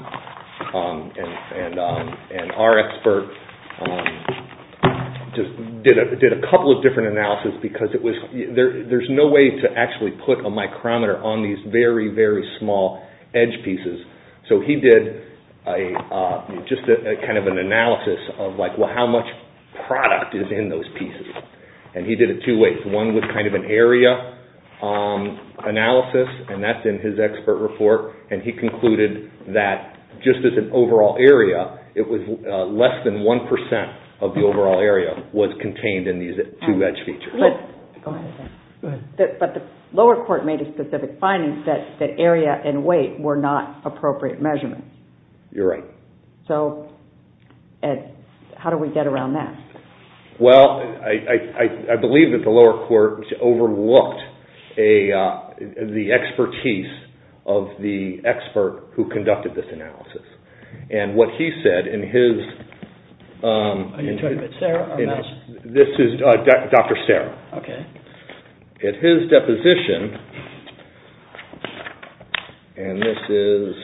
and our expert just did a couple of different analysis because it was there there's no way to actually put a micrometer on these very very small edge pieces so he did a just a kind of an analysis of like well how much product is in those pieces and he did it two ways one was kind of an area analysis and that's in his expert report and he concluded that just as an overall area it was less than 1% of the overall area was contained in these two edge features. But the lower court made a specific finding that that area and weight were not appropriate measurements. You're right. So how do we get around that? Well, I believe that the lower court overlooked the expertise of the expert who conducted this analysis and what he said in his... Are you talking about Sarah? This is Dr. Sarah. Okay. At his deposition and this is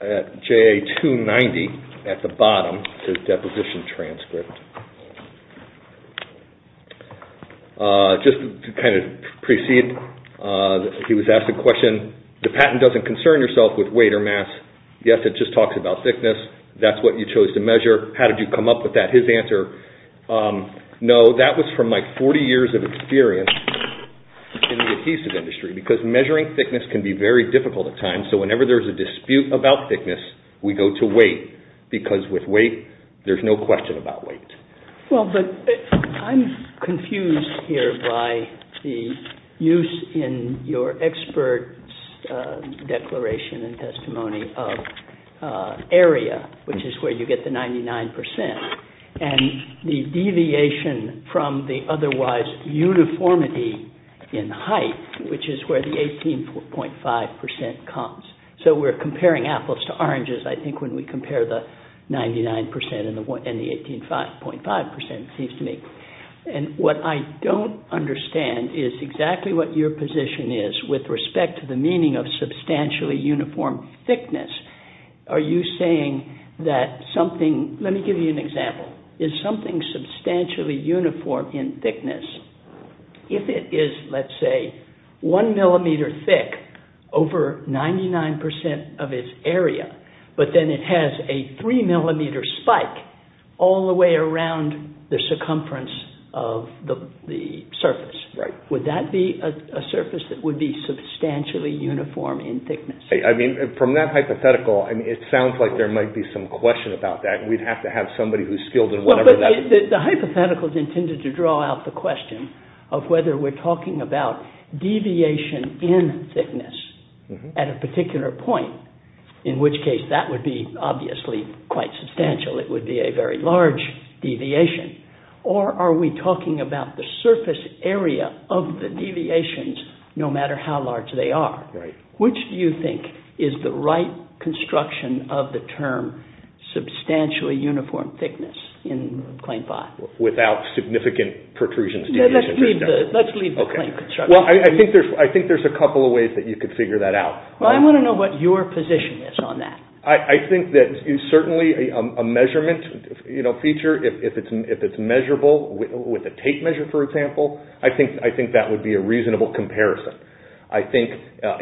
at JA 290 at the deposition transcript. Just to kind of precede, he was asked a question the patent doesn't concern yourself with weight or mass. Yes, it just talks about thickness. That's what you chose to measure. How did you come up with that? His answer, no that was from my 40 years of experience in the adhesive industry because measuring thickness can be very difficult at times so whenever there's a there's no question about weight. Well, I'm confused here by the use in your expert's declaration and testimony of area, which is where you get the 99% and the deviation from the otherwise uniformity in height, which is where the 18.5% comes. So we're comparing apples to oranges I think when we compare the 99% and the 18.5% it seems to me. And what I don't understand is exactly what your position is with respect to the meaning of substantially uniform thickness. Are you saying that something... Let me give you an example. Is something substantially uniform in thickness, if it is let's say one millimeter thick over 99% of its area, but then it has a three millimeter spike all the way around the circumference of the surface. Right. Would that be a surface that would be substantially uniform in thickness? I mean from that hypothetical and it sounds like there might be some question about that. We'd have to have somebody who's skilled in whatever that is. The hypothetical is intended to draw out the at a particular point, in which case that would be obviously quite substantial. It would be a very large deviation. Or are we talking about the surface area of the deviations no matter how large they are? Right. Which do you think is the right construction of the term substantially uniform thickness in claim 5? Without significant protrusions? Let's leave the claim construction. I think there's a couple of ways that you could figure that out. I want to know what your position is on that. I think that is certainly a measurement feature. If it's measurable with a tape measure, for example, I think that would be a reasonable comparison. I think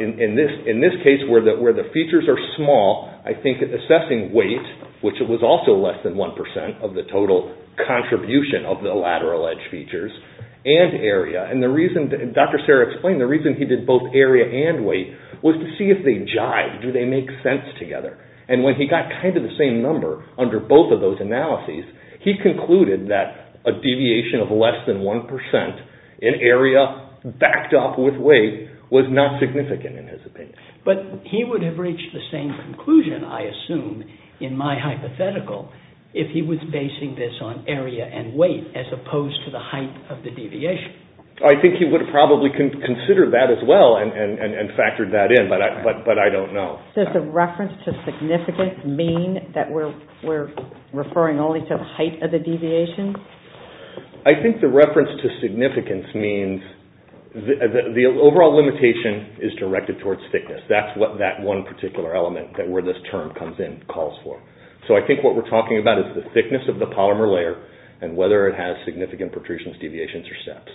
in this case where the features are small, I think assessing weight, which was also less than 1% of the total contribution of the lateral edge features and area. Dr. Serra explained the reason he did both area and weight was to see if they jive. Do they make sense together? And when he got kind of the same number under both of those analyses, he concluded that a deviation of less than 1% in area backed up with weight was not significant in his opinion. But he would have reached the same conclusion, I assume, in my hypothetical if he was basing this on area and weight as opposed to the height of the deviation. I think he would have probably considered that as well and factored that in, but I don't know. Does the reference to significant mean that we're referring only to the height of the deviation? I think the reference to significance means the overall limitation is directed towards thickness. That's what that one particular element that where this term comes in calls for. So I think what we're talking about is the thickness of the deviations or steps.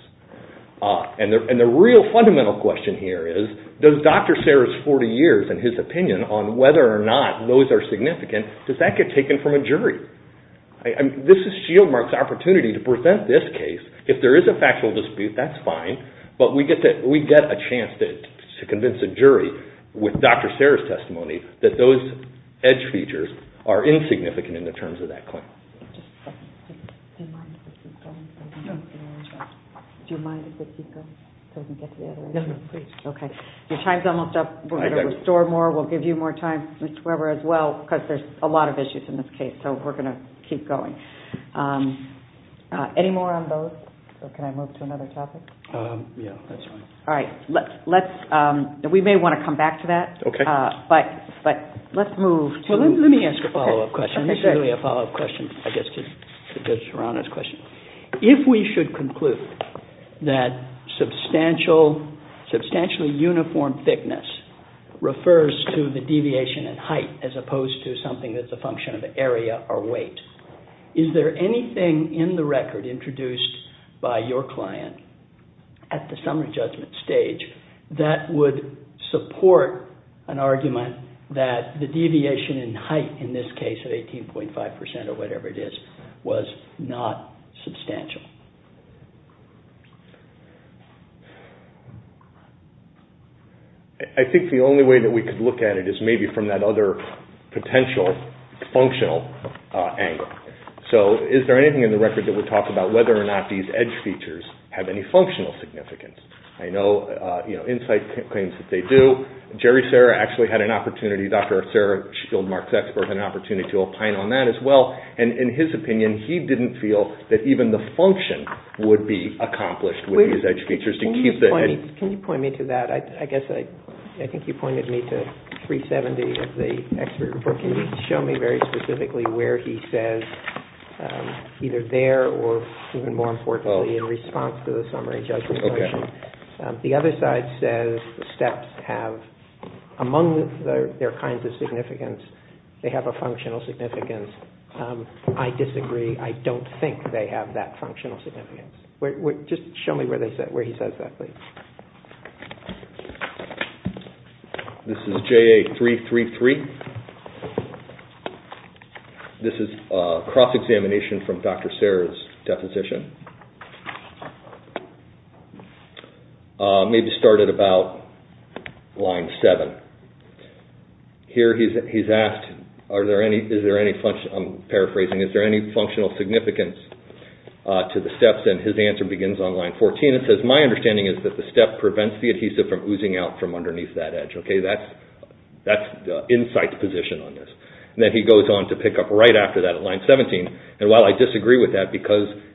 And the real fundamental question here is, does Dr. Serra's 40 years and his opinion on whether or not those are significant, does that get taken from a jury? This is Shieldmark's opportunity to present this case. If there is a factual dispute, that's fine, but we get a chance to convince a jury with Dr. Serra's testimony that those edge features are insignificant in the terms of that claim. Do you mind if we keep going so we can get to the other issue? No, no, please. Okay. Your time's almost up. We're going to restore more. We'll give you more time, Mr. Weber, as well, because there's a lot of issues in this case, so we're going to keep going. Any more on those, or can I move to another topic? Yeah, that's fine. All right. We may want to come back to that, but let's move to... Well, let me ask a follow-up question. This is really a follow-up question, I guess, to Judge Serrano's question. If we should conclude that substantially uniform thickness refers to the deviation in height as opposed to something that's a function of area or weight, is there anything in the record introduced by your client at the summary judgment stage that would support an argument that the deviation in height in this case of 18.5 percent or whatever it is was not substantial? I think the only way that we could look at it is maybe from that other potential functional angle. So is there anything in the record that would talk about whether or not these edge features have any functional significance? I know Insight claims that they do. Jerry Serra actually had an opportunity, Dr. Serra, Shieldmark's expert, had an opportunity to opine on that as well. And in his opinion, he didn't feel that even the function would be accomplished with these edge features. Can you point me to that? I think you pointed me to 370 of the expert report. Can you show me very specifically where he says either there or even more importantly in response to the summary judgment question, the other side says the steps have among their kinds of significance, they have a functional significance. I disagree. I don't think they have that functional significance. Just show me where he says that, please. This is JA333. This is a cross-examination from Dr. Serra's deposition. Maybe start at about line 7. Here he's asked, I'm paraphrasing, is there any functional significance to the steps? And his answer begins on line 14. It says, my understanding is that the step prevents the adhesive from oozing out from underneath that edge. That's insight's position on this. Then he goes on to pick up right after that at line 17. And while I disagree with that,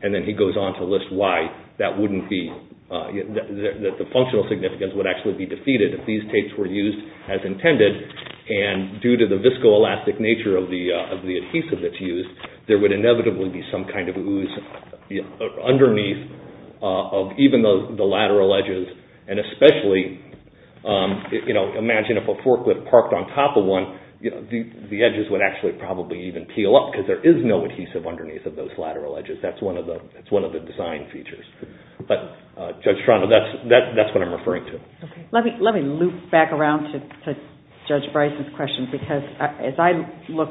and then he goes on to list why, that the functional significance would actually be defeated if these tapes were used as intended. And due to the viscoelastic nature of the adhesive that's used, there would inevitably be some kind of ooze underneath even the lateral edges. And especially, imagine if a forklift parked on top of one, the edges would actually probably even peel up because there is no adhesive underneath of those lateral edges. That's one of the design features. But Judge Toronto, that's what I'm referring to. Let me loop back around to Judge Bryce's question because as I look,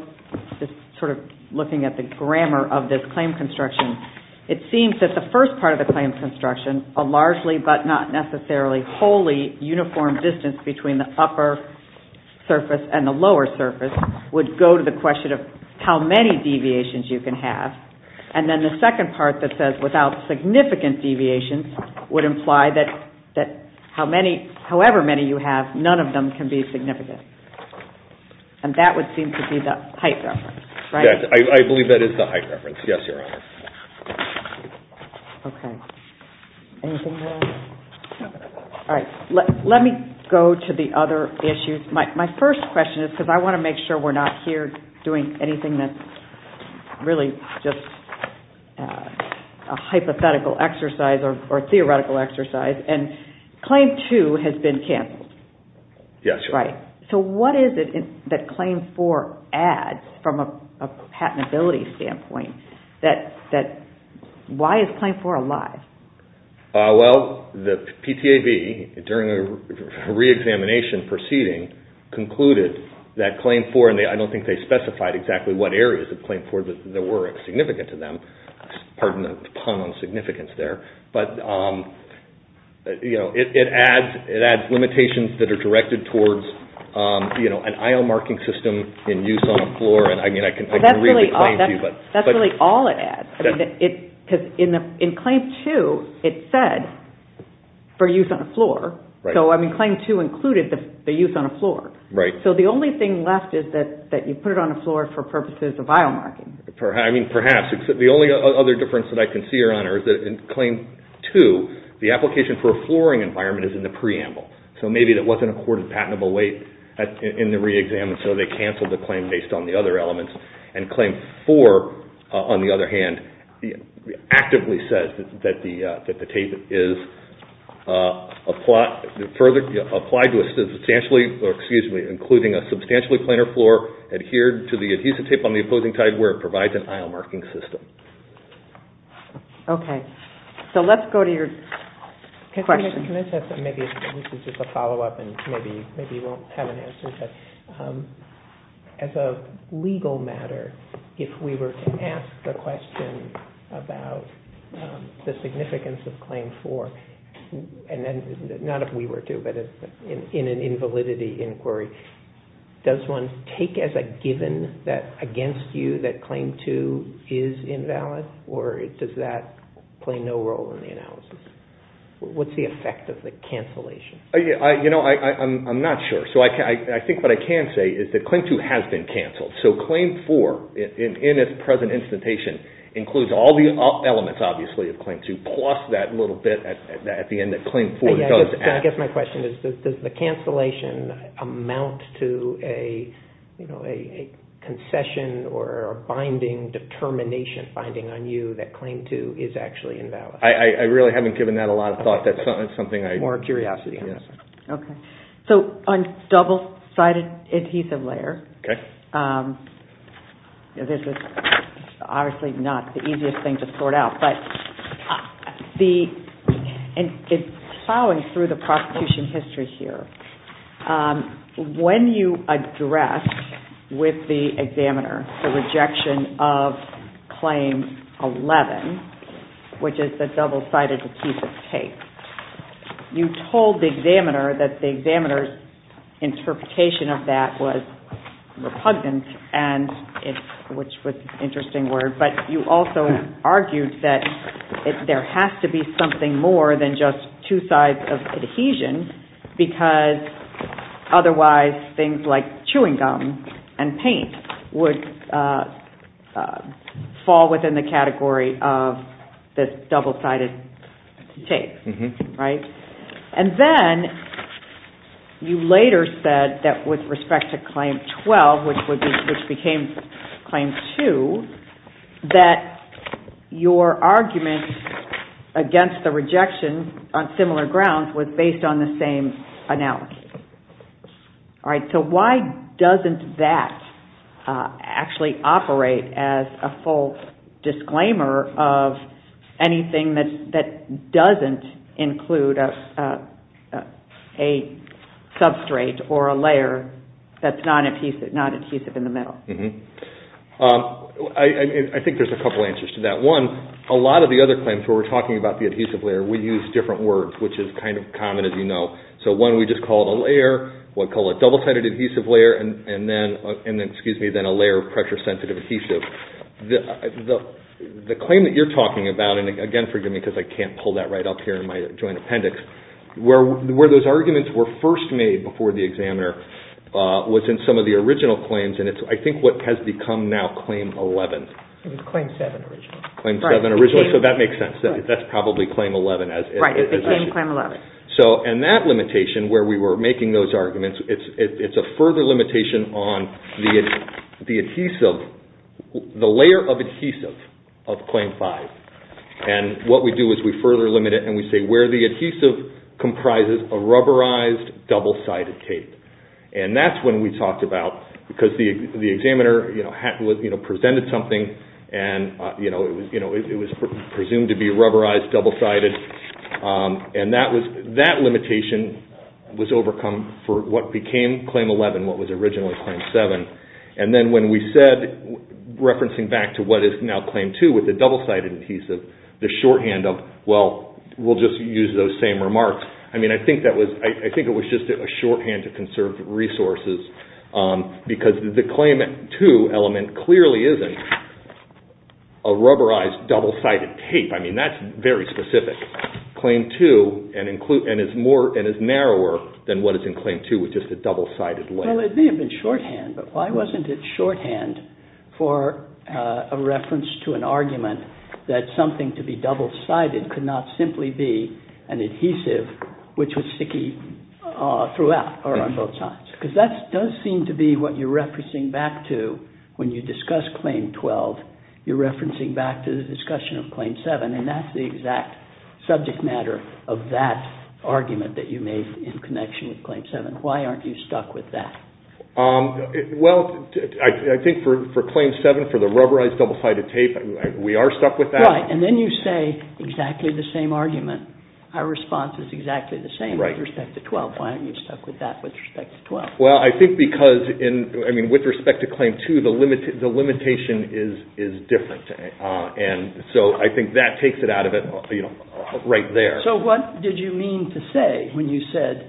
just sort of looking at the grammar of this claim construction, it seems that the first part of the claim construction, a largely but not necessarily wholly uniform distance between the upper surface and the lower surface would go to the question of how many deviations you can have. And then the second part that says without significant deviations would imply that however many you have, none of them can be significant. And that would seem to be the height reference, right? Yes. I believe that is the height reference. Yes, Your Honor. Okay. Anything else? No. All right. Let me go to the other issues. My first question is because I want to make sure we're not here doing anything that's really just a hypothetical exercise or theoretical exercise. And Claim 2 has been canceled. Yes, Your Honor. Right. So what is it that Claim 4 adds from a patentability standpoint? Why is Claim 4 alive? Well, the PTAB during a re-examination proceeding concluded that Claim 4, and I don't think they specified exactly what it's there, but it adds limitations that are directed towards an IOM marking system in use on a floor. That's really all it adds. Because in Claim 2, it said for use on a floor. So Claim 2 included the use on a floor. So the only thing left is that you put it on a floor for purposes of IOM marking. I mean, perhaps. The only other difference that I can see, Your Honor, is that in Claim 2, the application for a flooring environment is in the preamble. So maybe that wasn't accorded patentable weight in the re-exam, and so they canceled the claim based on the other elements. And Claim 4, on the other hand, actively says that the tape is applied to surfaces including a substantially plainer floor adhered to the adhesive tape on the opposing tide where it provides an IOM marking system. Okay. So let's go to your question. Can I just add something? Maybe this is just a follow-up and maybe you won't have an answer. As a legal matter, if we were to ask the question about the significance of Claim 4, and not if we were to, but in an invalidity inquiry, does one take as a given that against you that Claim 2 is invalid, or does that play no role in the analysis? What's the effect of the cancellation? You know, I'm not sure. So I think what I can say is that Claim 2 has been canceled. So Claim 4, in its present instantation, includes all the elements obviously of Claim 2, plus that little bit at the end that Claim 4 does add. I guess my question is, does the cancellation amount to a concession or binding determination, binding on you, that Claim 2 is actually invalid? I really haven't given that a lot of thought. That's something I... Okay. So on double-sided adhesive layer, this is obviously not the easiest thing to sort out, but it's plowing through the prosecution history here. When you address with the examiner the rejection of Claim 11, which is the double-sided adhesive tape, you told the examiner that the examiner's interpretation of that was repugnant, which was an interesting word, but you also argued that there has to be something more than just two sides of adhesion because otherwise things like chewing gum and paint would fall within the category of this double-sided tape, right? And then you later said that with respect to Claim 12, which became Claim 2, that your argument against the rejection on similar grounds was based on the same analogy. So why doesn't that actually operate as a full disclaimer of anything that doesn't include a substrate or a layer that's non-adhesive in the middle? I think there's a couple answers to that. One, a lot of the other answers are, well, we'll just call it a layer, we'll call it double-sided adhesive layer, and then a layer of pressure-sensitive adhesive. The claim that you're talking about, and again, forgive me because I can't pull that right up here in my joint appendix, where those arguments were first made before the examiner was in some of the original claims, and it's I think what has become now Claim 11. It was Claim 7 originally. And that limitation where we were making those arguments, it's a further limitation on the adhesive, the layer of adhesive of Claim 5. And what we do is we further limit it, and we say where the adhesive comprises a rubberized double-sided tape. And that's when we talked about, because the examiner presented something, and it was presumed to be rubberized double-sided, and that limitation was overcome for what became Claim 11, what was originally Claim 7. And then when we said, referencing back to what is now Claim 2 with the double-sided adhesive, the shorthand of, well, we'll just use those same remarks. I mean, I think it was just a shorthand to conserve resources, because the Claim 2 element clearly isn't a rubberized double-sided tape. I mean, that's very specific. Claim 2, and it's narrower than what is in Claim 2 with just a double-sided layer. Well, it may have been shorthand, but why wasn't it shorthand for a reference to an argument that something to be double-sided could not simply be an adhesive which was sticky throughout or on both sides? Because that does seem to be what you're referencing back to when you discuss Claim 12. You're referencing back to the discussion of Claim 7, and that's the exact subject matter of that argument that you made in connection with Claim 7. Why aren't you stuck with that? Well, I think for Claim 7, for the rubberized double-sided tape, we are stuck with that. Right. And then you say exactly the same argument. Our response is exactly the same with respect to 12. Why aren't you stuck with that with respect to 12? Well, I think because, I mean, with respect to Claim 2, the limitation is different. And so I think that takes it out of it right there. So what did you mean to say when you said,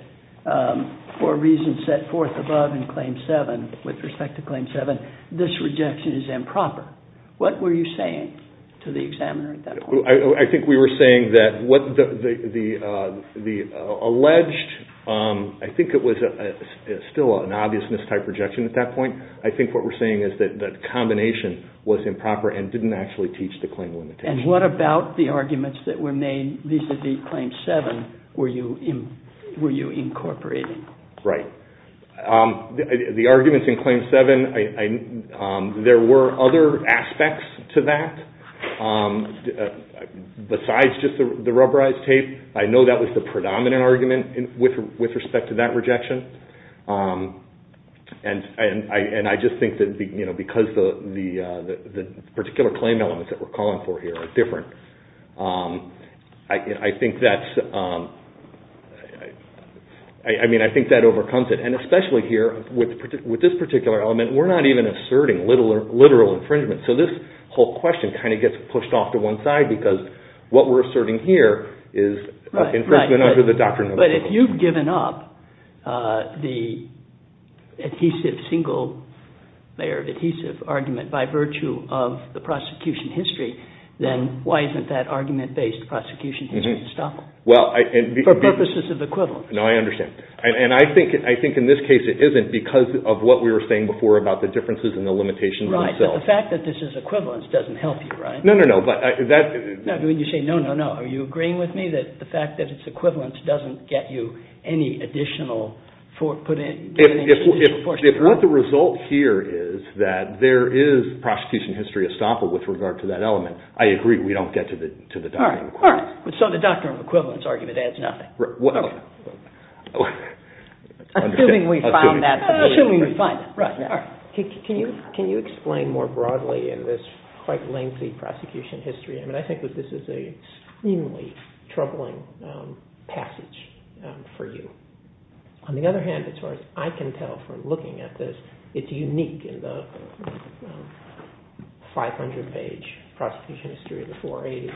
for reasons set forth above in Claim 7, with respect to Claim 7, this rejection is improper? What were you saying to the examiner at that point? I think we were saying that the alleged, I think it was still an allegation, that the combination was improper and didn't actually teach the claim limitation. And what about the arguments that were made vis-à-vis Claim 7 were you incorporating? Right. The arguments in Claim 7, there were other aspects to that besides just the rubberized tape. I know that was the predominant argument with respect to that the particular claim elements that we're calling for here are different. I think that's, I mean, I think that overcomes it. And especially here, with this particular element, we're not even asserting literal infringement. So this whole question kind of gets pushed off to one side because what we're asserting here is infringement under the doctrine of the principle. But if you've given up the single layer of adhesive argument by virtue of the prosecution history, then why isn't that argument-based prosecution history to stop it? For purposes of equivalence. No, I understand. And I think in this case it isn't because of what we were saying before about the differences and the limitations themselves. Right. But the fact that this is equivalence doesn't help you, right? No, no, no. When you say no, no, no, are you agreeing with me that the fact that it's equivalence doesn't get you any additional, put in any additional force? If what the result here is that there is prosecution history estoppel with regard to that element, I agree we don't get to the doctrine of equivalence. So the doctrine of equivalence argument adds nothing. Assuming we found that. Assuming we found it. Can you explain more broadly in this quite lengthy prosecution history? I think this is an extremely troubling passage for you. On the other hand, as far as I can tell from looking at this, it's unique in the 500 page prosecution history of the 480,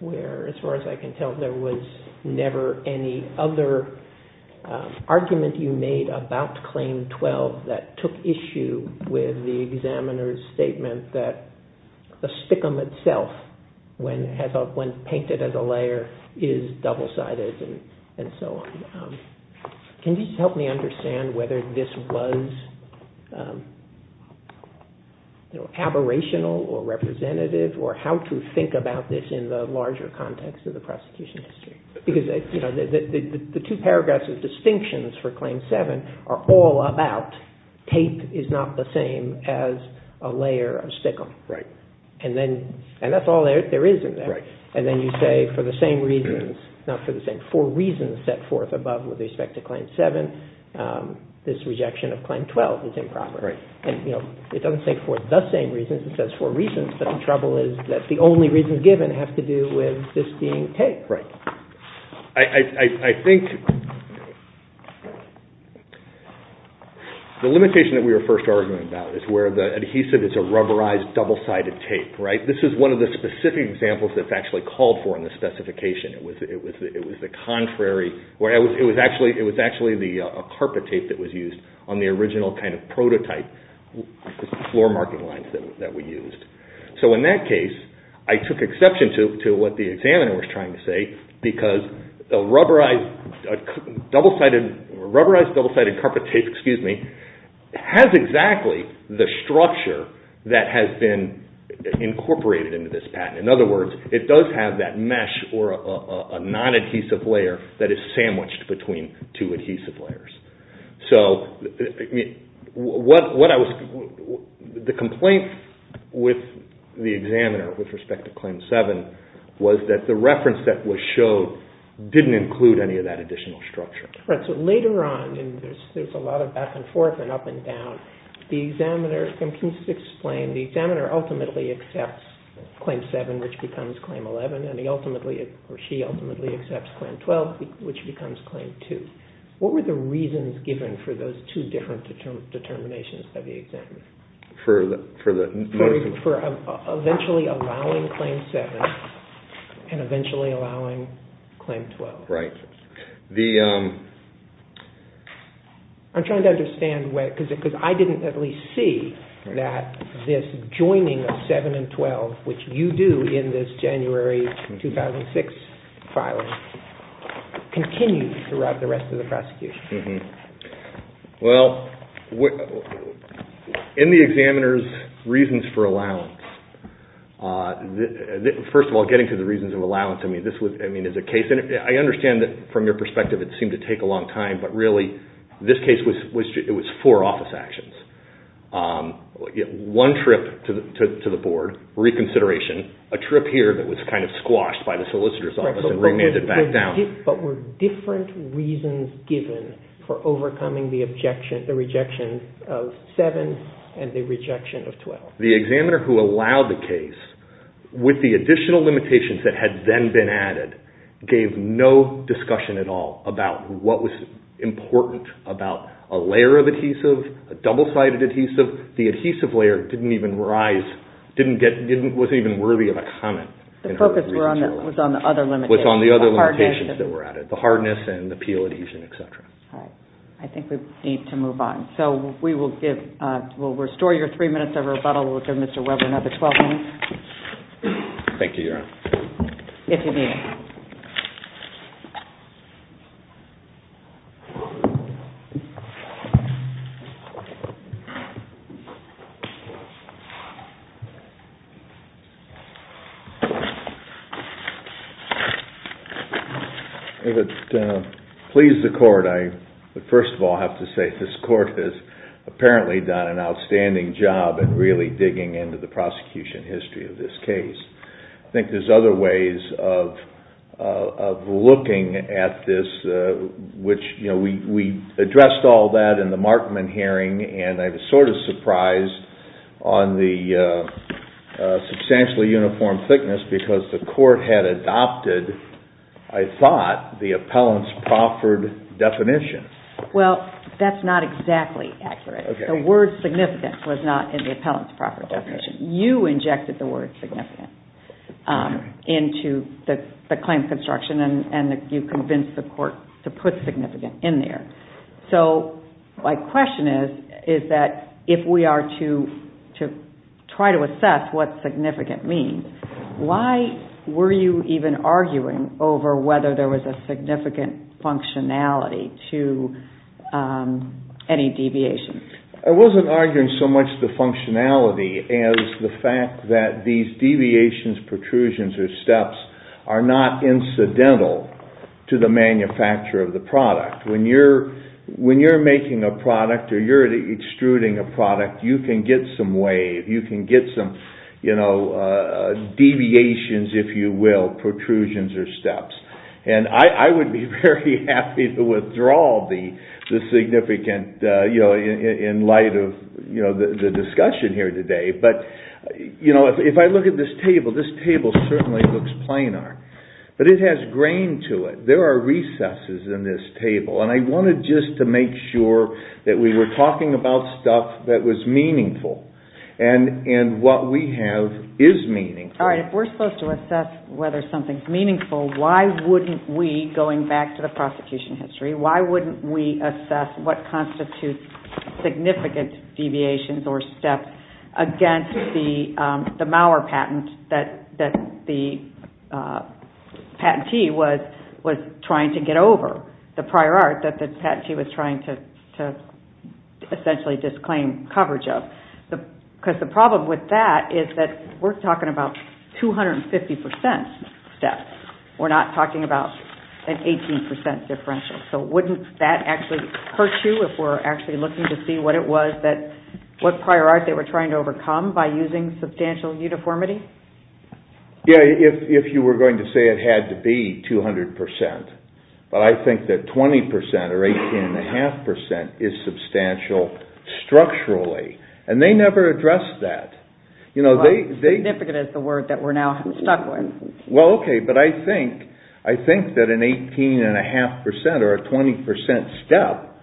where as far as I can tell there was never any other argument you made about Claim 12 that took issue with the examiner's statement that the spicum itself, when painted as a layer, is double sided and so on. Can you help me understand whether this was aberrational or representative or how to think about this in the larger context of the prosecution history? The two paragraphs of distinctions for Claim 7 are all about tape is not the same as a layer of spicum. And that's all there is in there. And then you say for the same reasons, not for the same, for reasons set forth above with respect to Claim 7, this rejection of Claim 12 is improper. And it doesn't say for the same reasons, it says for reasons, but the trouble is that the only reasons given have to do with this being tape. I think the limitation that we were first arguing about is where the adhesive is a rubberized double sided tape. This is one of the specific examples that's actually called for in the specification. It was actually a carpet tape that was used on the original kind of prototype floor marking lines that we used. So in that case, I took exception to what the examiner was trying to say because a rubberized double sided carpet tape has exactly the structure that has been incorporated into this patent. In other words, it does have that mesh or a non-adhesive layer that is sandwiched between two adhesive layers. The complaint with the examiner with respect to Claim 7 was that the reference that was showed didn't include any of that additional structure. Later on, there's a lot of back and forth and up and down. Can you explain, the examiner ultimately accepts Claim 7 which becomes Claim 11 and she ultimately accepts Claim 12 which becomes Claim 2. What were the reasons given for those two different determinations of the examiner? For eventually allowing Claim 7 and eventually allowing Claim 12. I'm trying to understand because I didn't at least see that this joining of 7 and 12 which you do in this January 2006 filing continues throughout the rest of the prosecution. In the examiner's reasons for allowance, first of all getting to the reasons of allowance. I understand that from your perspective it seemed to take a long time but really this case was four office actions. One trip to the board, reconsideration, a trip here that was kind of squashed by the solicitor's office and remanded back down. But were different reasons given for overcoming the rejection of 7 and the rejection of 12. The examiner who allowed the case with the additional limitations that had then been added gave no discussion at all about what was important about a layer of adhesive, a double sided adhesive. The adhesive layer didn't even rise, wasn't even worthy of a comment. The focus was on the other limitations. I think we need to move on. We'll restore your three minutes of rebuttal and we'll give Mr. Webber another 12 minutes. Thank you, Your Honor. If it pleased the court, I first of all have to say this court has apparently done an outstanding job in really digging into the prosecution history of this case. I think there's other ways of looking at this which we addressed all that in the Markman hearing and I was sort of surprised on the substantially uniform thickness because the court had adopted, I thought, the appellant's proffered definition. Well, that's not exactly accurate. The word significant was not in the appellant's proffered definition. You injected the word significant into the claim construction and you convinced the court to put significant in there. So my question is that if we are to try to assess what significant means, why were you even arguing over whether there was a significant functionality to any deviation? I wasn't arguing so much the functionality as the fact that these deviations, protrusions or steps are not incidental to the manufacture of the product. When you're making a product or you're extruding a product, you can get some wave, you can get some deviations, if you will, protrusions or steps. And I would be very happy to withdraw the significant in light of the discussion here today. But if I look at this table, this table certainly looks planar. But it has grain to it. There are recesses in this table. And I wanted just to make sure that we were talking about stuff that was meaningful and what we have is meaningful. If we're supposed to assess whether something's meaningful, why wouldn't we, going back to the prosecution history, why wouldn't we assess what constitutes significant deviations or steps against the Mauer patent that the patentee was trying to get over, the prior art that the patentee was trying to essentially disclaim coverage of? Because the problem with that is that we're talking about 250% steps. We're not talking about an 18% differential. So wouldn't that actually hurt you if we're actually looking to see what it was that, what prior art they were trying to overcome by using substantial uniformity? If you were going to say it had to be 200%, but I think that 20% or 18.5% is substantial structurally. And they never addressed that. But I think that an 18.5% or a 20% step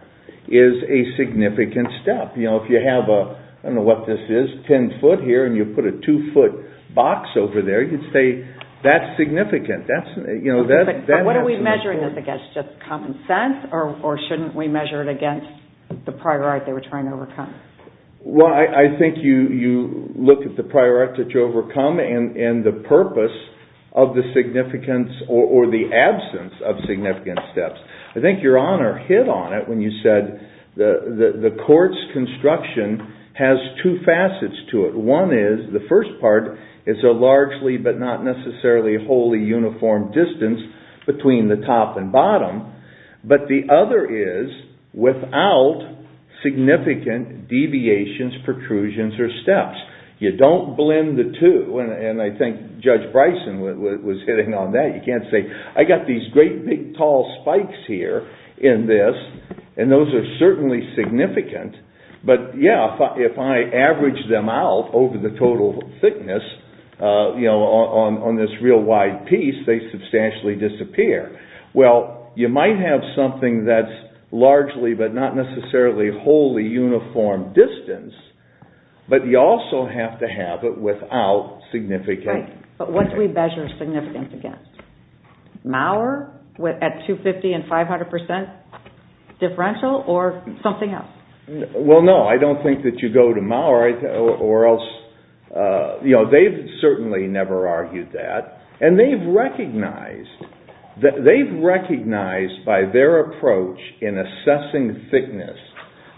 is a significant step. If you have a, I don't know what this is, 10 foot here and you put a 2 foot box over there, you'd say that's significant. But what are we measuring this against, just common sense or shouldn't we measure it against the prior art they were trying to overcome? Well, I think you look at the prior art that you overcome and the purpose of the significance or the absence of significant steps. I think your Honor hit on it when you said the court's construction has two facets to it. One is the first part is a largely but not necessarily wholly uniform distance between the top and bottom. But the other is without significant deviations, protrusions or steps. You don't blend the two and I think Judge Bryson was hitting on that. You can't say, I've got these great big tall spikes here in this and those are certainly significant, but yeah, if I average them out over the total thickness on this real wide piece, they substantially disappear. Well, you might have something that's largely but not necessarily wholly uniform distance, but you also have to have it without significant deviations. Right, but what do we measure significance against? Mauer at 250 and 500 percent differential or something else? Well, no, I don't think that you go to Mauer or else, they've certainly never argued that and they've recognized by their approach in assessing thickness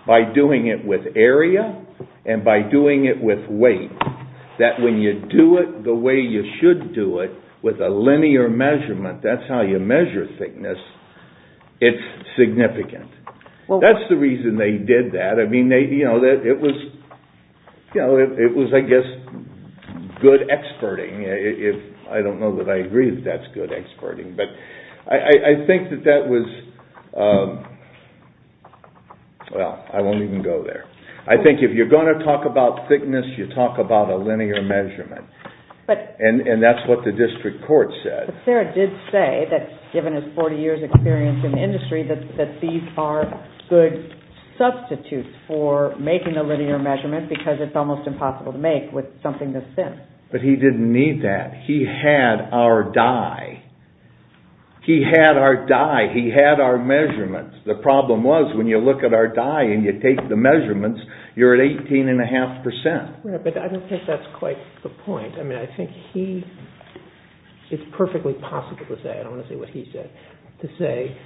by doing it with a linear measurement. That's how you measure thickness. It's significant. That's the reason they did that. It was, I guess, good experting. I don't know that I agree that that's good experting, but I think that that was, well, I won't even go there. I think if you're going to talk about thickness, you talk about a linear measurement and that's what the district court said. But Sarah did say that given his 40 years experience in the industry that these are good substitutes for making a linear measurement because it's almost impossible to make with something this thin. But he didn't need that. He had our die. He had our die. But I don't think that's quite the point. I mean, I think he, it's perfectly possible to say, I don't want to say what he said, to say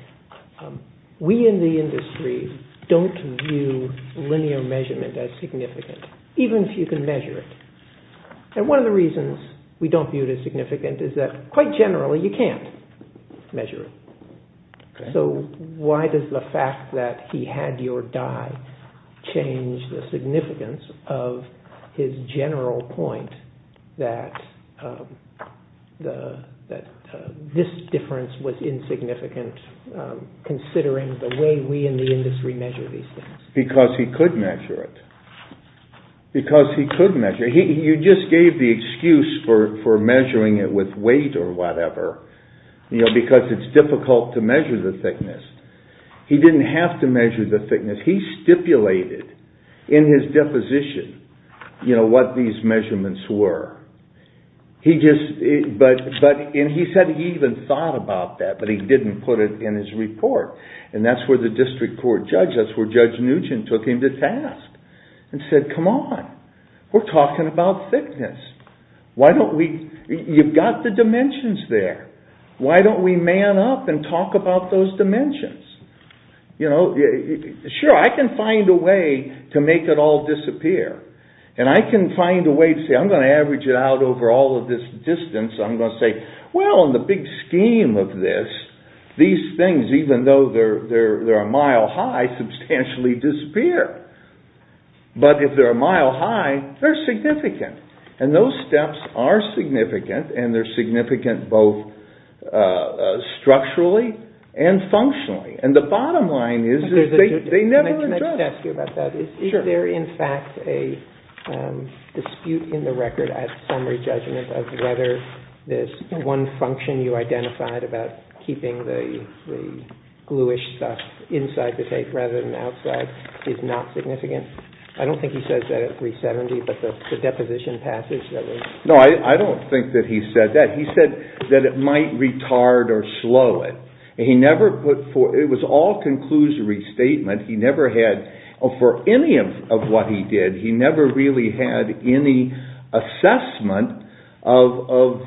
we in the industry don't view linear measurement as significant, even if you can measure it. And one of the reasons we don't view it as significant is that quite generally you can't measure it. So why does the fact that he had your die change the significance of his general point that this difference was insignificant considering the way we in the industry measure these things? Because he could measure it. You just gave the excuse for the thickness. He didn't have to measure the thickness. He stipulated in his deposition what these measurements were. And he said he even thought about that, but he didn't put it in his report. And that's where the district court judge, that's where Judge Nugent took him to task and said, come on, we're talking about thickness. You've got the dimensions there. Why don't we man up and talk about those dimensions? Sure, I can find a way to make it all disappear. And I can find a way to say, I'm going to average it out over all of this distance. I'm going to say, well, in the big scheme of this, these things, even though they're a mile high, substantially disappear. But if they're a mile high, they're significant. And those steps are significant, and they're significant both structurally and functionally. And the bottom line is they never adjust. Is there in fact a dispute in the record at summary judgment of whether this one function you identified about keeping the glue-ish stuff inside the tape rather than outside is not significant? I don't think he says that at 370, but the deposition passage that was No, I don't think that he said that. He said that it might retard or slow it. It was all conclusive restatement. He never had, for any of what he did, he never really had any assessment of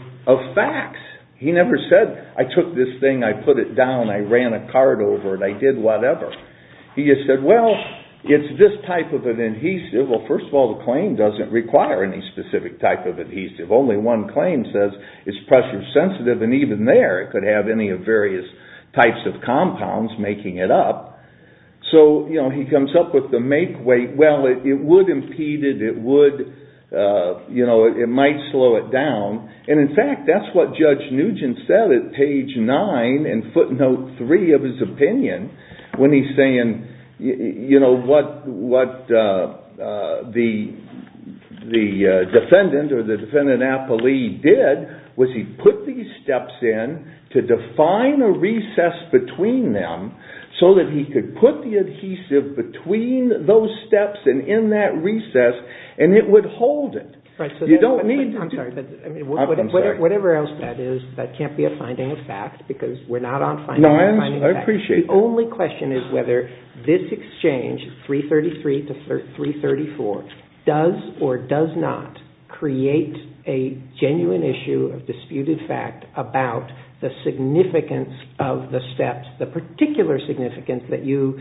facts. He never said, I took this thing, I put it down, I ran a card over it, I did whatever. He just said, well, it's this type of an adhesive. Well, first of all, the claim doesn't require any specific type of adhesive. Only one claim says it's pressure sensitive, and even there it could have any of various types of compounds making it up. So he comes up with the Well, it would impede it, it would, you know, it might slow it down. And in fact, that's what Judge Nugent said at page nine in footnote three of his opinion when he's saying, you know, what the defendant or the defendant-appellee did was he put these steps in to define a recess between them so that he could put the adhesive between those steps and in that recess, and it would hold it. Whatever else that is, that can't be a finding of fact, because we're not on finding of facts. The only question is whether this exchange, 333 to 334, does or does not create a genuine issue of disputed fact about the significance of the steps, the particular significance that you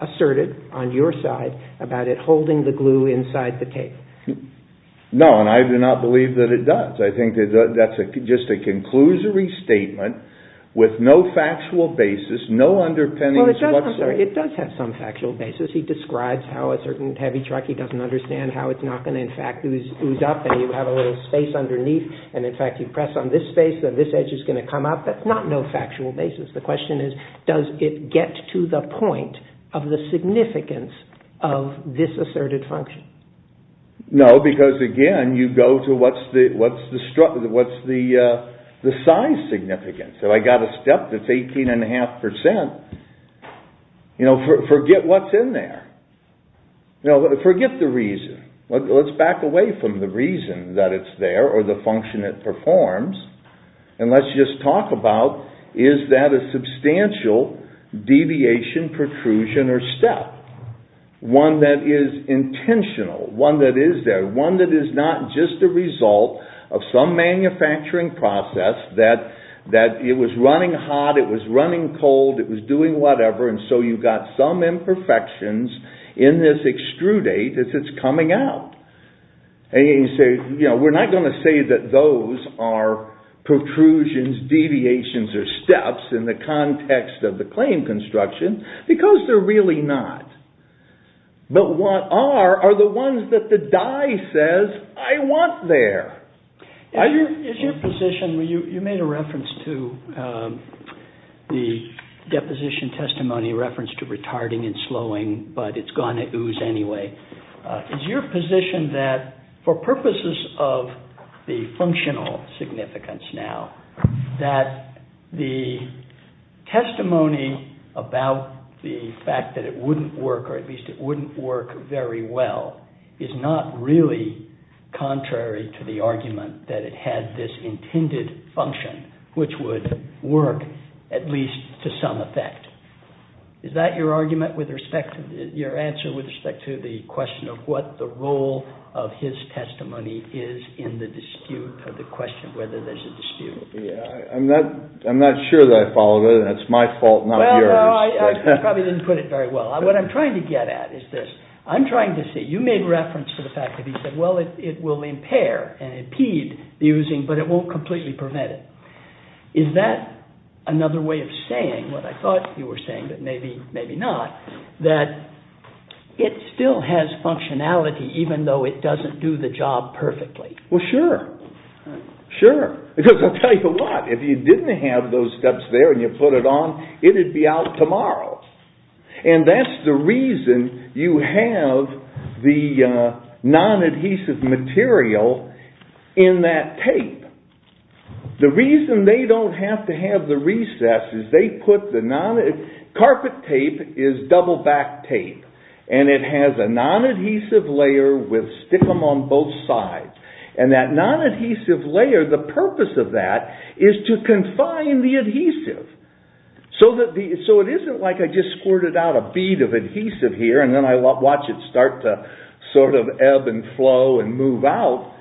asserted on your side about it holding the glue inside the tape. No, and I do not believe that it does. I think that's just a conclusory statement with no factual basis, no underpinnings whatsoever. Well, it does have some factual basis. He describes how a certain heavy truck, he doesn't understand how it's not going to in fact ooze up and you have a little space underneath and in fact you press on this space and this edge is going to come up, but not no factual basis. The question is does it get to the point of the significance of this asserted function? No, because again, you go to what's the size significance. So I got a step that's 18 and a half percent. Forget what's in there. Forget the reason. Let's back away from the reason that it's there or the function it performs and let's just talk about is that a substantial deviation, protrusion or step, one that is intentional, one that is there, one that is not just the result of some old, it was doing whatever and so you've got some imperfections in this extrudate as it's coming out. We're not going to say that those are protrusions, deviations or steps in the context of the claim construction because they're really not. But what are are the ones that the die says I want there. Is your position, you made a reference to the deposition testimony reference to retarding and slowing, but it's going to ooze anyway. Is your position that for purposes of the functional significance now, that the testimony about the fact that it wouldn't work or at least it wouldn't work very well is not really contrary to the argument that it had this intended function, which would work at least to some effect. Is that your argument with respect to your answer with respect to the question of what the role of his testimony is in the dispute of the question of whether there's a dispute. I'm not sure that I followed it and it's my fault, not yours. I probably didn't put it very well. What I'm trying to get at is this. I'm trying to say you made reference to the fact that he said, well, it will impair and impede using, but it won't completely prevent it. Is that another way of saying what I thought you were saying that maybe, maybe not, that it still has functionality even though it doesn't do the job perfectly? Well, sure. Sure. Because I'll tell you what, if you didn't have those steps there and you put it on, it would be out tomorrow. And that's the reason you have the non-adhesive material in that tape. The reason they don't have to have the recess is they put the non-adhesive, carpet tape is double backed tape, and it has a non-adhesive layer with stick-em on both sides. And that non-adhesive layer, the purpose of that is to confine the adhesive. So it isn't like I just squirted out a bead of adhesive here and then I watch it start to sort of ebb and flow and move out.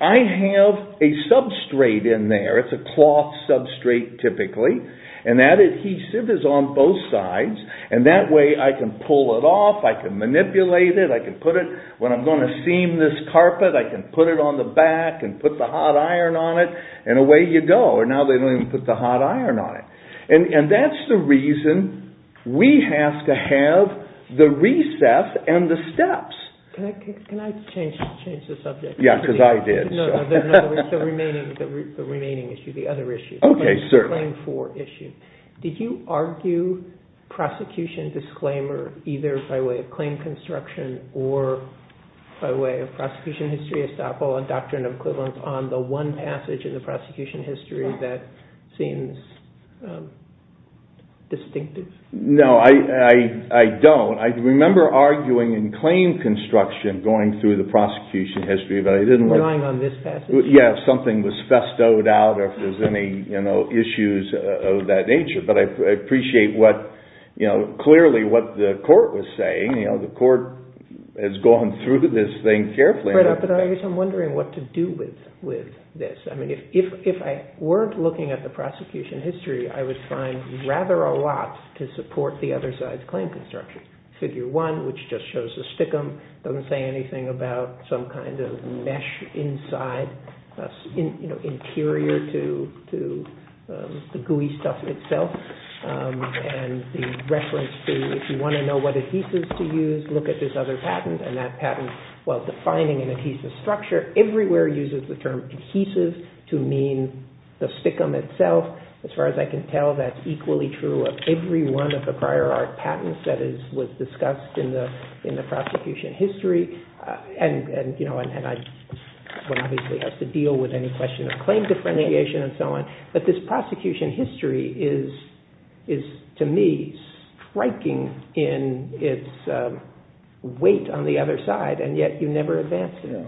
I have a substrate in there, it's a cloth substrate typically, and that adhesive is on both sides and that way I can pull it off, I can manipulate it, I can put it, when I'm going to seam this carpet, I can put it on the back and put the hot iron on it and away you go. Or now they don't even put the hot iron on it. And that's the reason we have to have the recess and the steps. Can I change the subject? Yeah, because I did. The remaining issue, the other issue, the claim for issue. Did you argue prosecution disclaimer either by way of claim construction or by way of prosecution history estoppel and doctrine of equivalence on the one passage in the prosecution history that seems distinctive? No, I don't. I remember arguing in claim construction going through the prosecution history. If something was bestowed out or if there's any issues of that nature, but I appreciate clearly what the court was saying. The court has gone through this thing carefully. I'm wondering what to do with this. If I weren't looking at the prosecution history, I would be looking at the statute of limitations, which just shows the stickum. It doesn't say anything about some kind of mesh inside, interior to the gooey stuff itself. And the reference to, if you want to know what adhesives to use, look at this other patent. And that patent, while defining an adhesive structure, everywhere uses the term adhesive to mean the stickum itself. As far as I can tell, that's equally true of every one of the prior art patents that was discussed in the prosecution history. One obviously has to deal with any question of claim differentiation and so on. But this prosecution history is, to me, striking in its weight on the other side, and yet you never advance it.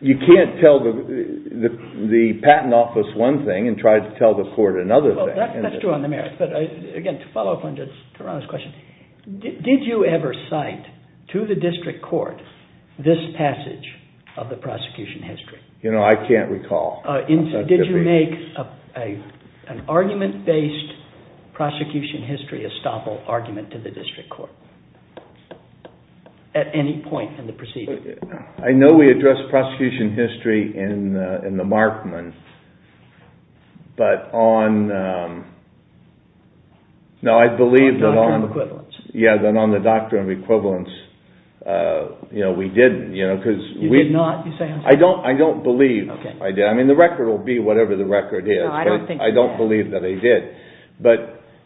You can't tell the patent office one thing and try to tell the court another thing. Did you ever cite to the district court this passage of the prosecution history? Did you make an argument-based prosecution history gestapo argument to the district court at any point in the procedure? I know we addressed prosecution history in the Markman, but on... On the Doctrine of Equivalence. You did not? I don't believe I did. The record will be whatever the record is, but I don't believe that I did.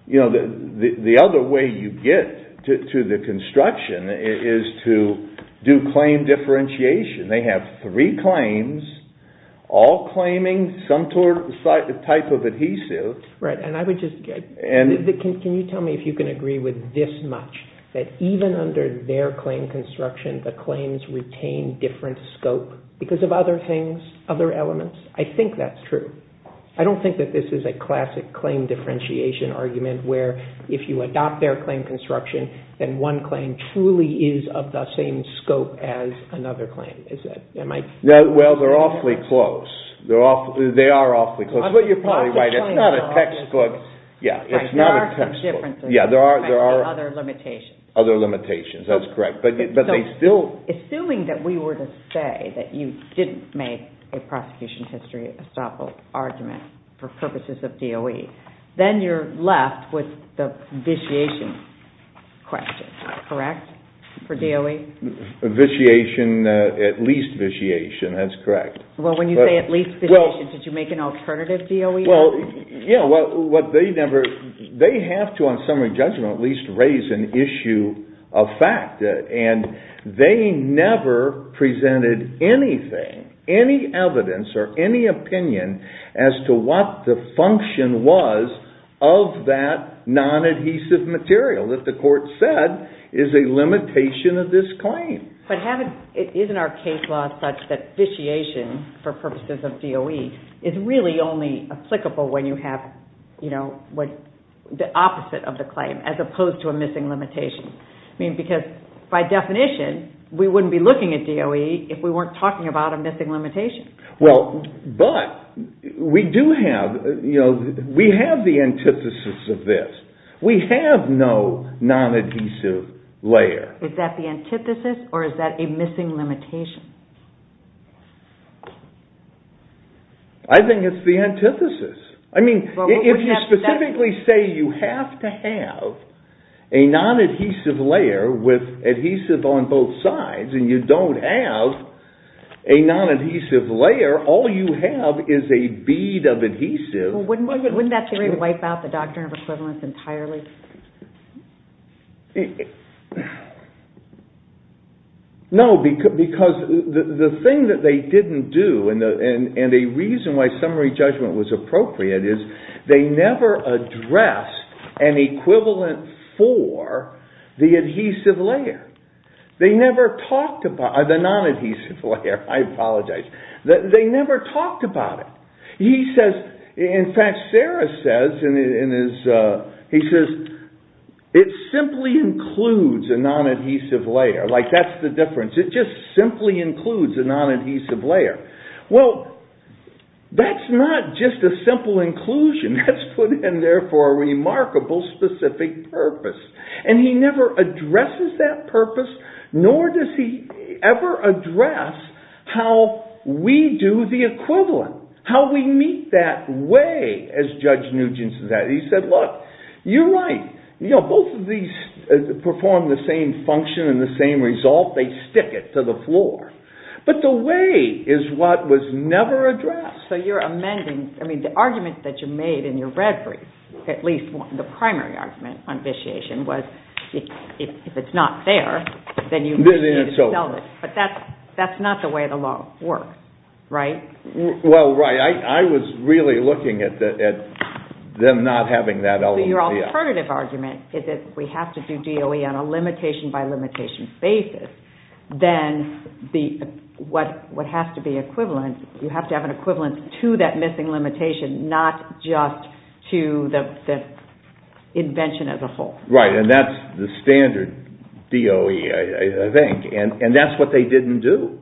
The other way you get to the construction is to do claim differentiation. They have three claims, all claiming some type of adhesive. Can you tell me if you can agree with this much, that even under their claim construction, the claims retain different scope because of other things, other elements? I think that's true. I don't think that this is a classic claim differentiation argument where if you adopt their claim construction, then one claim truly is of the same scope as another claim. Well, they're awfully close. They are awfully close. That's what you're probably right. It's not a textbook. Other limitations. Assuming that we were to say that you didn't make a prosecution history gestapo argument for purposes of DOE, then you're left with the vitiation question, correct, for DOE? Vitiation, at least vitiation, that's correct. Well, when you say at least vitiation, did you make an alternative DOE argument? They have to, on summary judgment, at least raise an issue of fact. They never presented anything, any evidence or any opinion as to what the function was of that non-adhesive material that the court said is a limitation of this claim. But isn't our case law such that vitiation for purposes of DOE is really only applicable when you have the opposite of the claim as opposed to a missing limitation? Because by definition, we wouldn't be looking at DOE if we weren't talking about a missing limitation. But we do have the antithesis of this. We have no non-adhesive layer. Is that the antithesis or is that a missing limitation? I think it's the antithesis. If you specifically say you have to have a non-adhesive layer with a non-adhesive layer, all you have is a bead of adhesive. Wouldn't that wipe out the doctrine of equivalence entirely? No, because the thing that they didn't do and a reason why summary judgment was appropriate is they never addressed an equivalent for the adhesive layer. The non-adhesive layer, I apologize. They never talked about it. In fact, Sarah says it simply includes a non-adhesive layer. That's the difference. It just simply includes a non-adhesive layer. That's not just a simple inclusion. That's put in there for a remarkable specific purpose. And he never addresses that purpose nor does he ever address how we do the equivalent, how we meet that way as Judge Nugent said. He said, look, you're right. Both of these perform the same function and the same result. They stick it to the floor. But the way is what was never addressed. The primary argument on vitiation was if it's not fair, then you need to sell it. But that's not the way the law works, right? Well, right. I was really looking at them not having that element. So your alternative argument is that we have to do DOE on a limitation by limitation basis, then what has to be equivalent, you have to have an equivalent to that missing limitation, not just to the invention as a whole. Right. And that's the standard DOE, I think. And that's what they didn't do.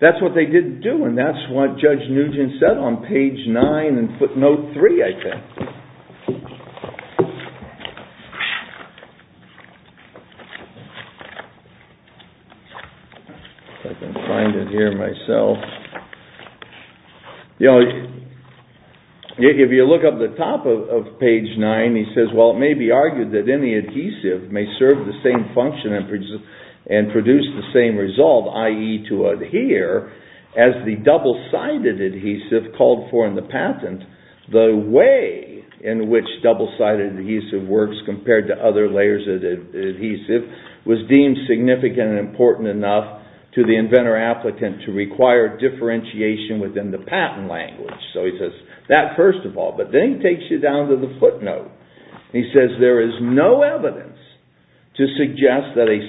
That's what they didn't do. And that's what Judge Nugent said on page nine in footnote three, I think. I can find it here myself. You know, if you look up the top of page nine, he says, well, it may be argued that any adhesive may serve the same function and produce the same result, i.e. to adhere as the double-sided adhesive called for in the patent, the way in which double-sided adhesive works compared to other layers of adhesive was deemed significant and important enough to the inventor-applicant to require differentiation within the patent language. So he says that first of all, but then he takes you down to the footnote. He says there is no evidence to the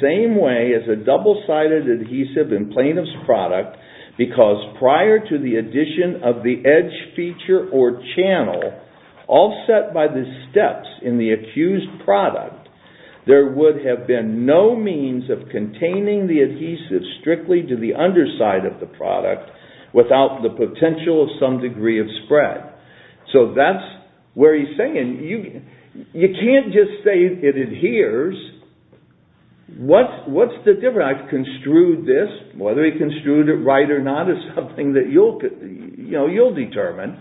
same way as a double-sided adhesive in plaintiff's product because prior to the addition of the edge feature or channel offset by the steps in the accused product, there would have been no means of containing the adhesive strictly to the underside of the product without the potential of some degree of spread. So that's where he's saying you can't just say it adheres. What's the difference? I've construed this. Whether he construed it right or not is something that you'll determine.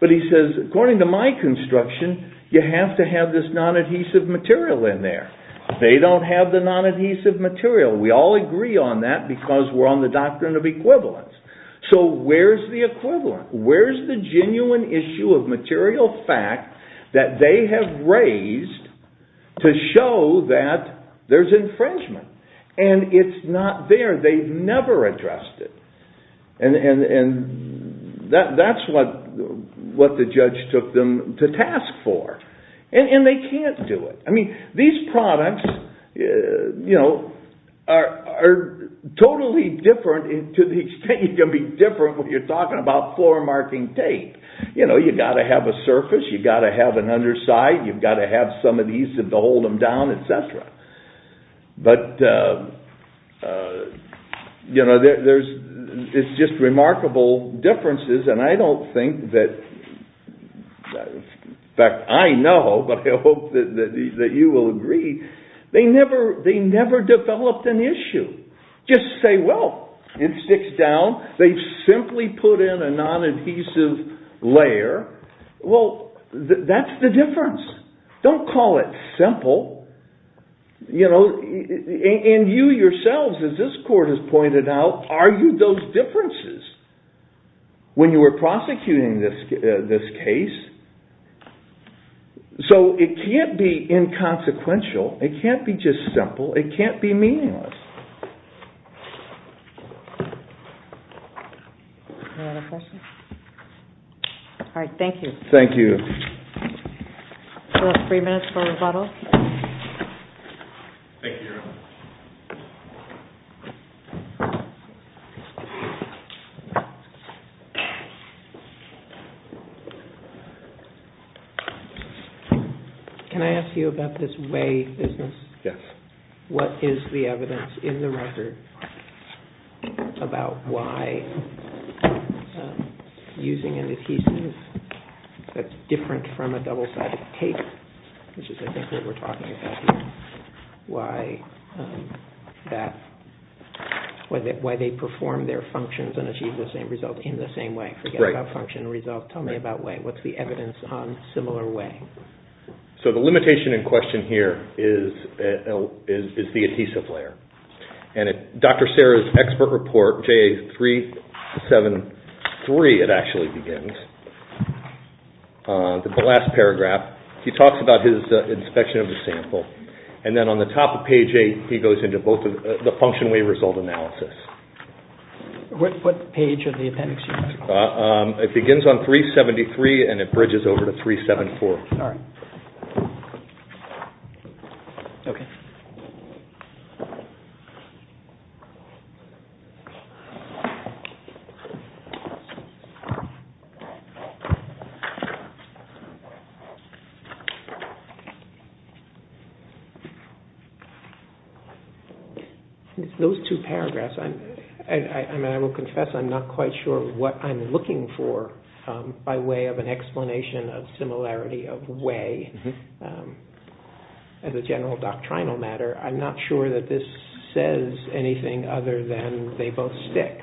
But he says, according to my construction, you have to have this non-adhesive material in there. They don't have the non-adhesive material. We all agree on that because we're on the doctrine of equivalence. So where's the equivalent? Where's the genuine issue of material fact that they have raised to show that there's infringement? And it's not there. They've never addressed it. That's what the judge took them to task for. And they can't do it. These products are totally different to the extent you can be different when you're talking about floor marking tape. You've got to have a surface. You've got to have an underside. You've got to have some of these to hold them down, etc. But there's just remarkable differences. And I don't think that in fact, I know, but I hope that you will agree, they never developed an issue. Just say, well, it sticks down. They simply put in a non-adhesive layer. Well, that's the difference. Don't call it simple. And you yourselves, as this court has pointed out, argued those differences when you were prosecuting this case. So it can't be inconsequential. It can't be just simple. It can't be meaningless. Any other questions? All right. Thank you. Thank you. Three minutes for rebuttal. Can I ask you about this whey business? Yes. What is the evidence in the record about why using an adhesive that's different from a double-sided tape, which is I think what we're talking about here, why they perform their functions and achieve the same result in the same way? Forget about function and result. Tell me about whey. What's the evidence on similar whey? So the limitation in question here is the 373, it actually begins. The last paragraph, he talks about his inspection of the sample. And then on the top of page 8, he goes into both the function whey result analysis. What page of the appendix? It begins on 373 and it bridges over to 374. All right. Those two paragraphs, I will confess I'm not quite sure what I'm looking for by way of an explanation of similarity of whey. As a general doctrinal matter, I'm not sure that this says anything other than they both stick,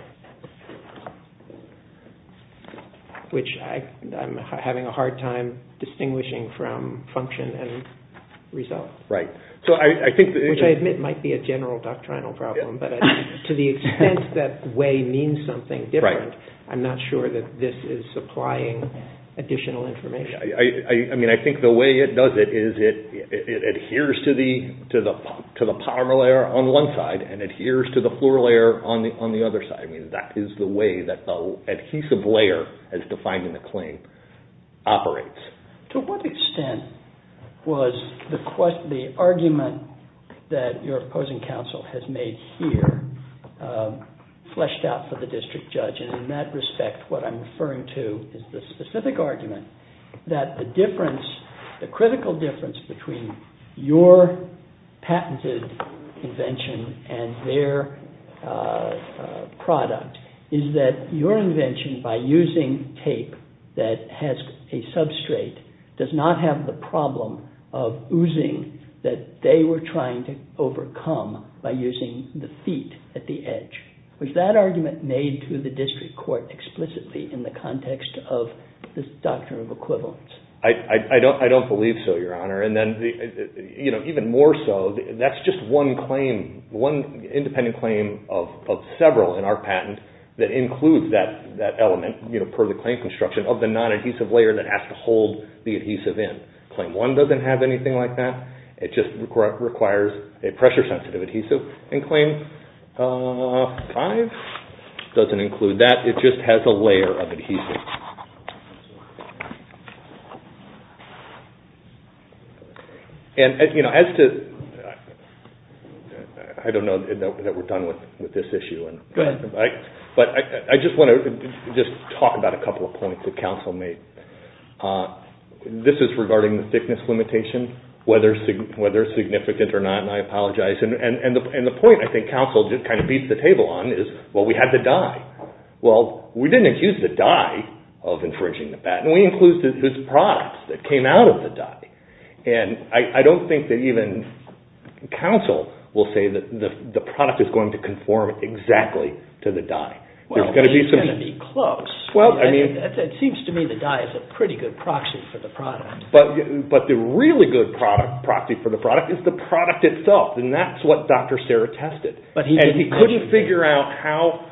which I'm having a hard time distinguishing from function and result. Which I admit might be a general doctrinal problem, but to the extent that whey means something different, I'm not sure that this is supplying additional information. I think the way it does it is it adheres to the polymer layer on one side and adheres to the floor layer on the other side. That is the way that the adhesive layer, as defined in the claim, operates. To what extent was the argument that your opposing counsel has made here fleshed out for the district judge? And in that respect, what I'm referring to is the specific argument that the critical difference between your patented invention and their product is that your invention, by using tape that has a substrate, does not have the problem of oozing that they were trying to overcome by using the feet at the edge. Was that argument made to the district court explicitly in the context of this doctrine of equivalence? I don't believe so, Your Honor. Even more so, that's just one claim, one independent claim of several in our patent that includes that element, per the claim construction, of the non-adhesive layer that has to hold the adhesive in. Claim one doesn't have anything like that. It just requires a pressure sensitive adhesive. And claim five doesn't include that. It just has a layer of adhesive. And, you know, as to I don't know that we're done with this issue. But I just want to just talk about a couple of points that counsel made. This is regarding the thickness limitation, whether significant or not, and I apologize. And the point, I think, counsel just kind of beats the table on is, well, we had the dye. Well, we didn't use the dye of infringing the patent. We included the product that came out of the dye. And I don't think that even counsel will say that the product is going to conform exactly to the dye. There's going to be some... It seems to me the dye is a pretty good proxy for the product. But the really good proxy for the product is the product itself. And that's what Dr. Serra tested. And he couldn't figure out how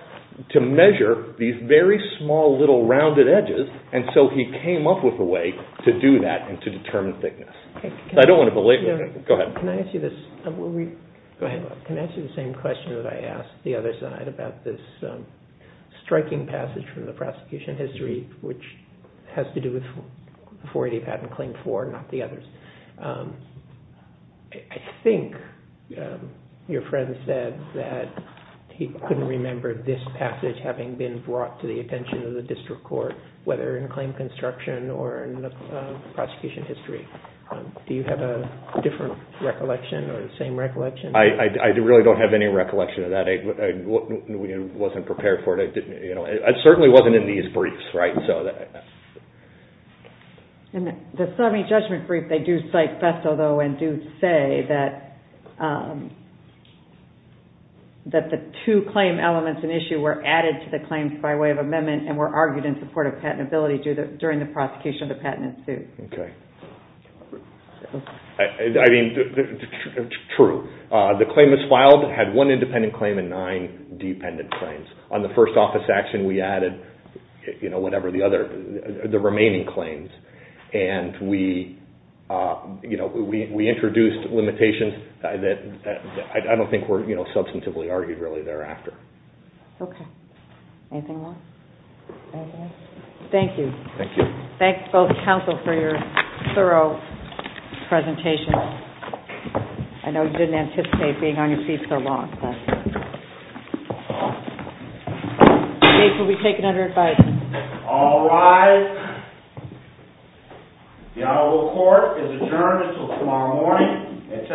to measure these very small little rounded edges. And so he came up with a way to do that and to determine thickness. Can I ask you the same question that I asked the other side about this striking passage from the prosecution history, which has to do with 480 patent claim 4, not the others? I think your friend said that he couldn't remember this passage having been brought to the attention of the district court, whether in claim construction or in the prosecution history. Do you have a different recollection or the same recollection? I really don't have any recollection of that. I wasn't prepared for it. It certainly wasn't in these briefs, right? In the summary judgment brief, they do cite Festo, though, and do say that the two claim elements in issue were added to the claims by way of amendment and were argued in support of patentability during the prosecution of the patent in suit. True. The claim was filed, had one independent claim and nine dependent claims. On the first office action, we added the remaining claims. We introduced limitations that I don't think were substantively argued really thereafter. Thank you. Thank you both counsel for your thorough presentation. I know you didn't anticipate being on your feet so long. All right. The Honorable Court is adjourned until tomorrow morning at 10 o'clock a.m.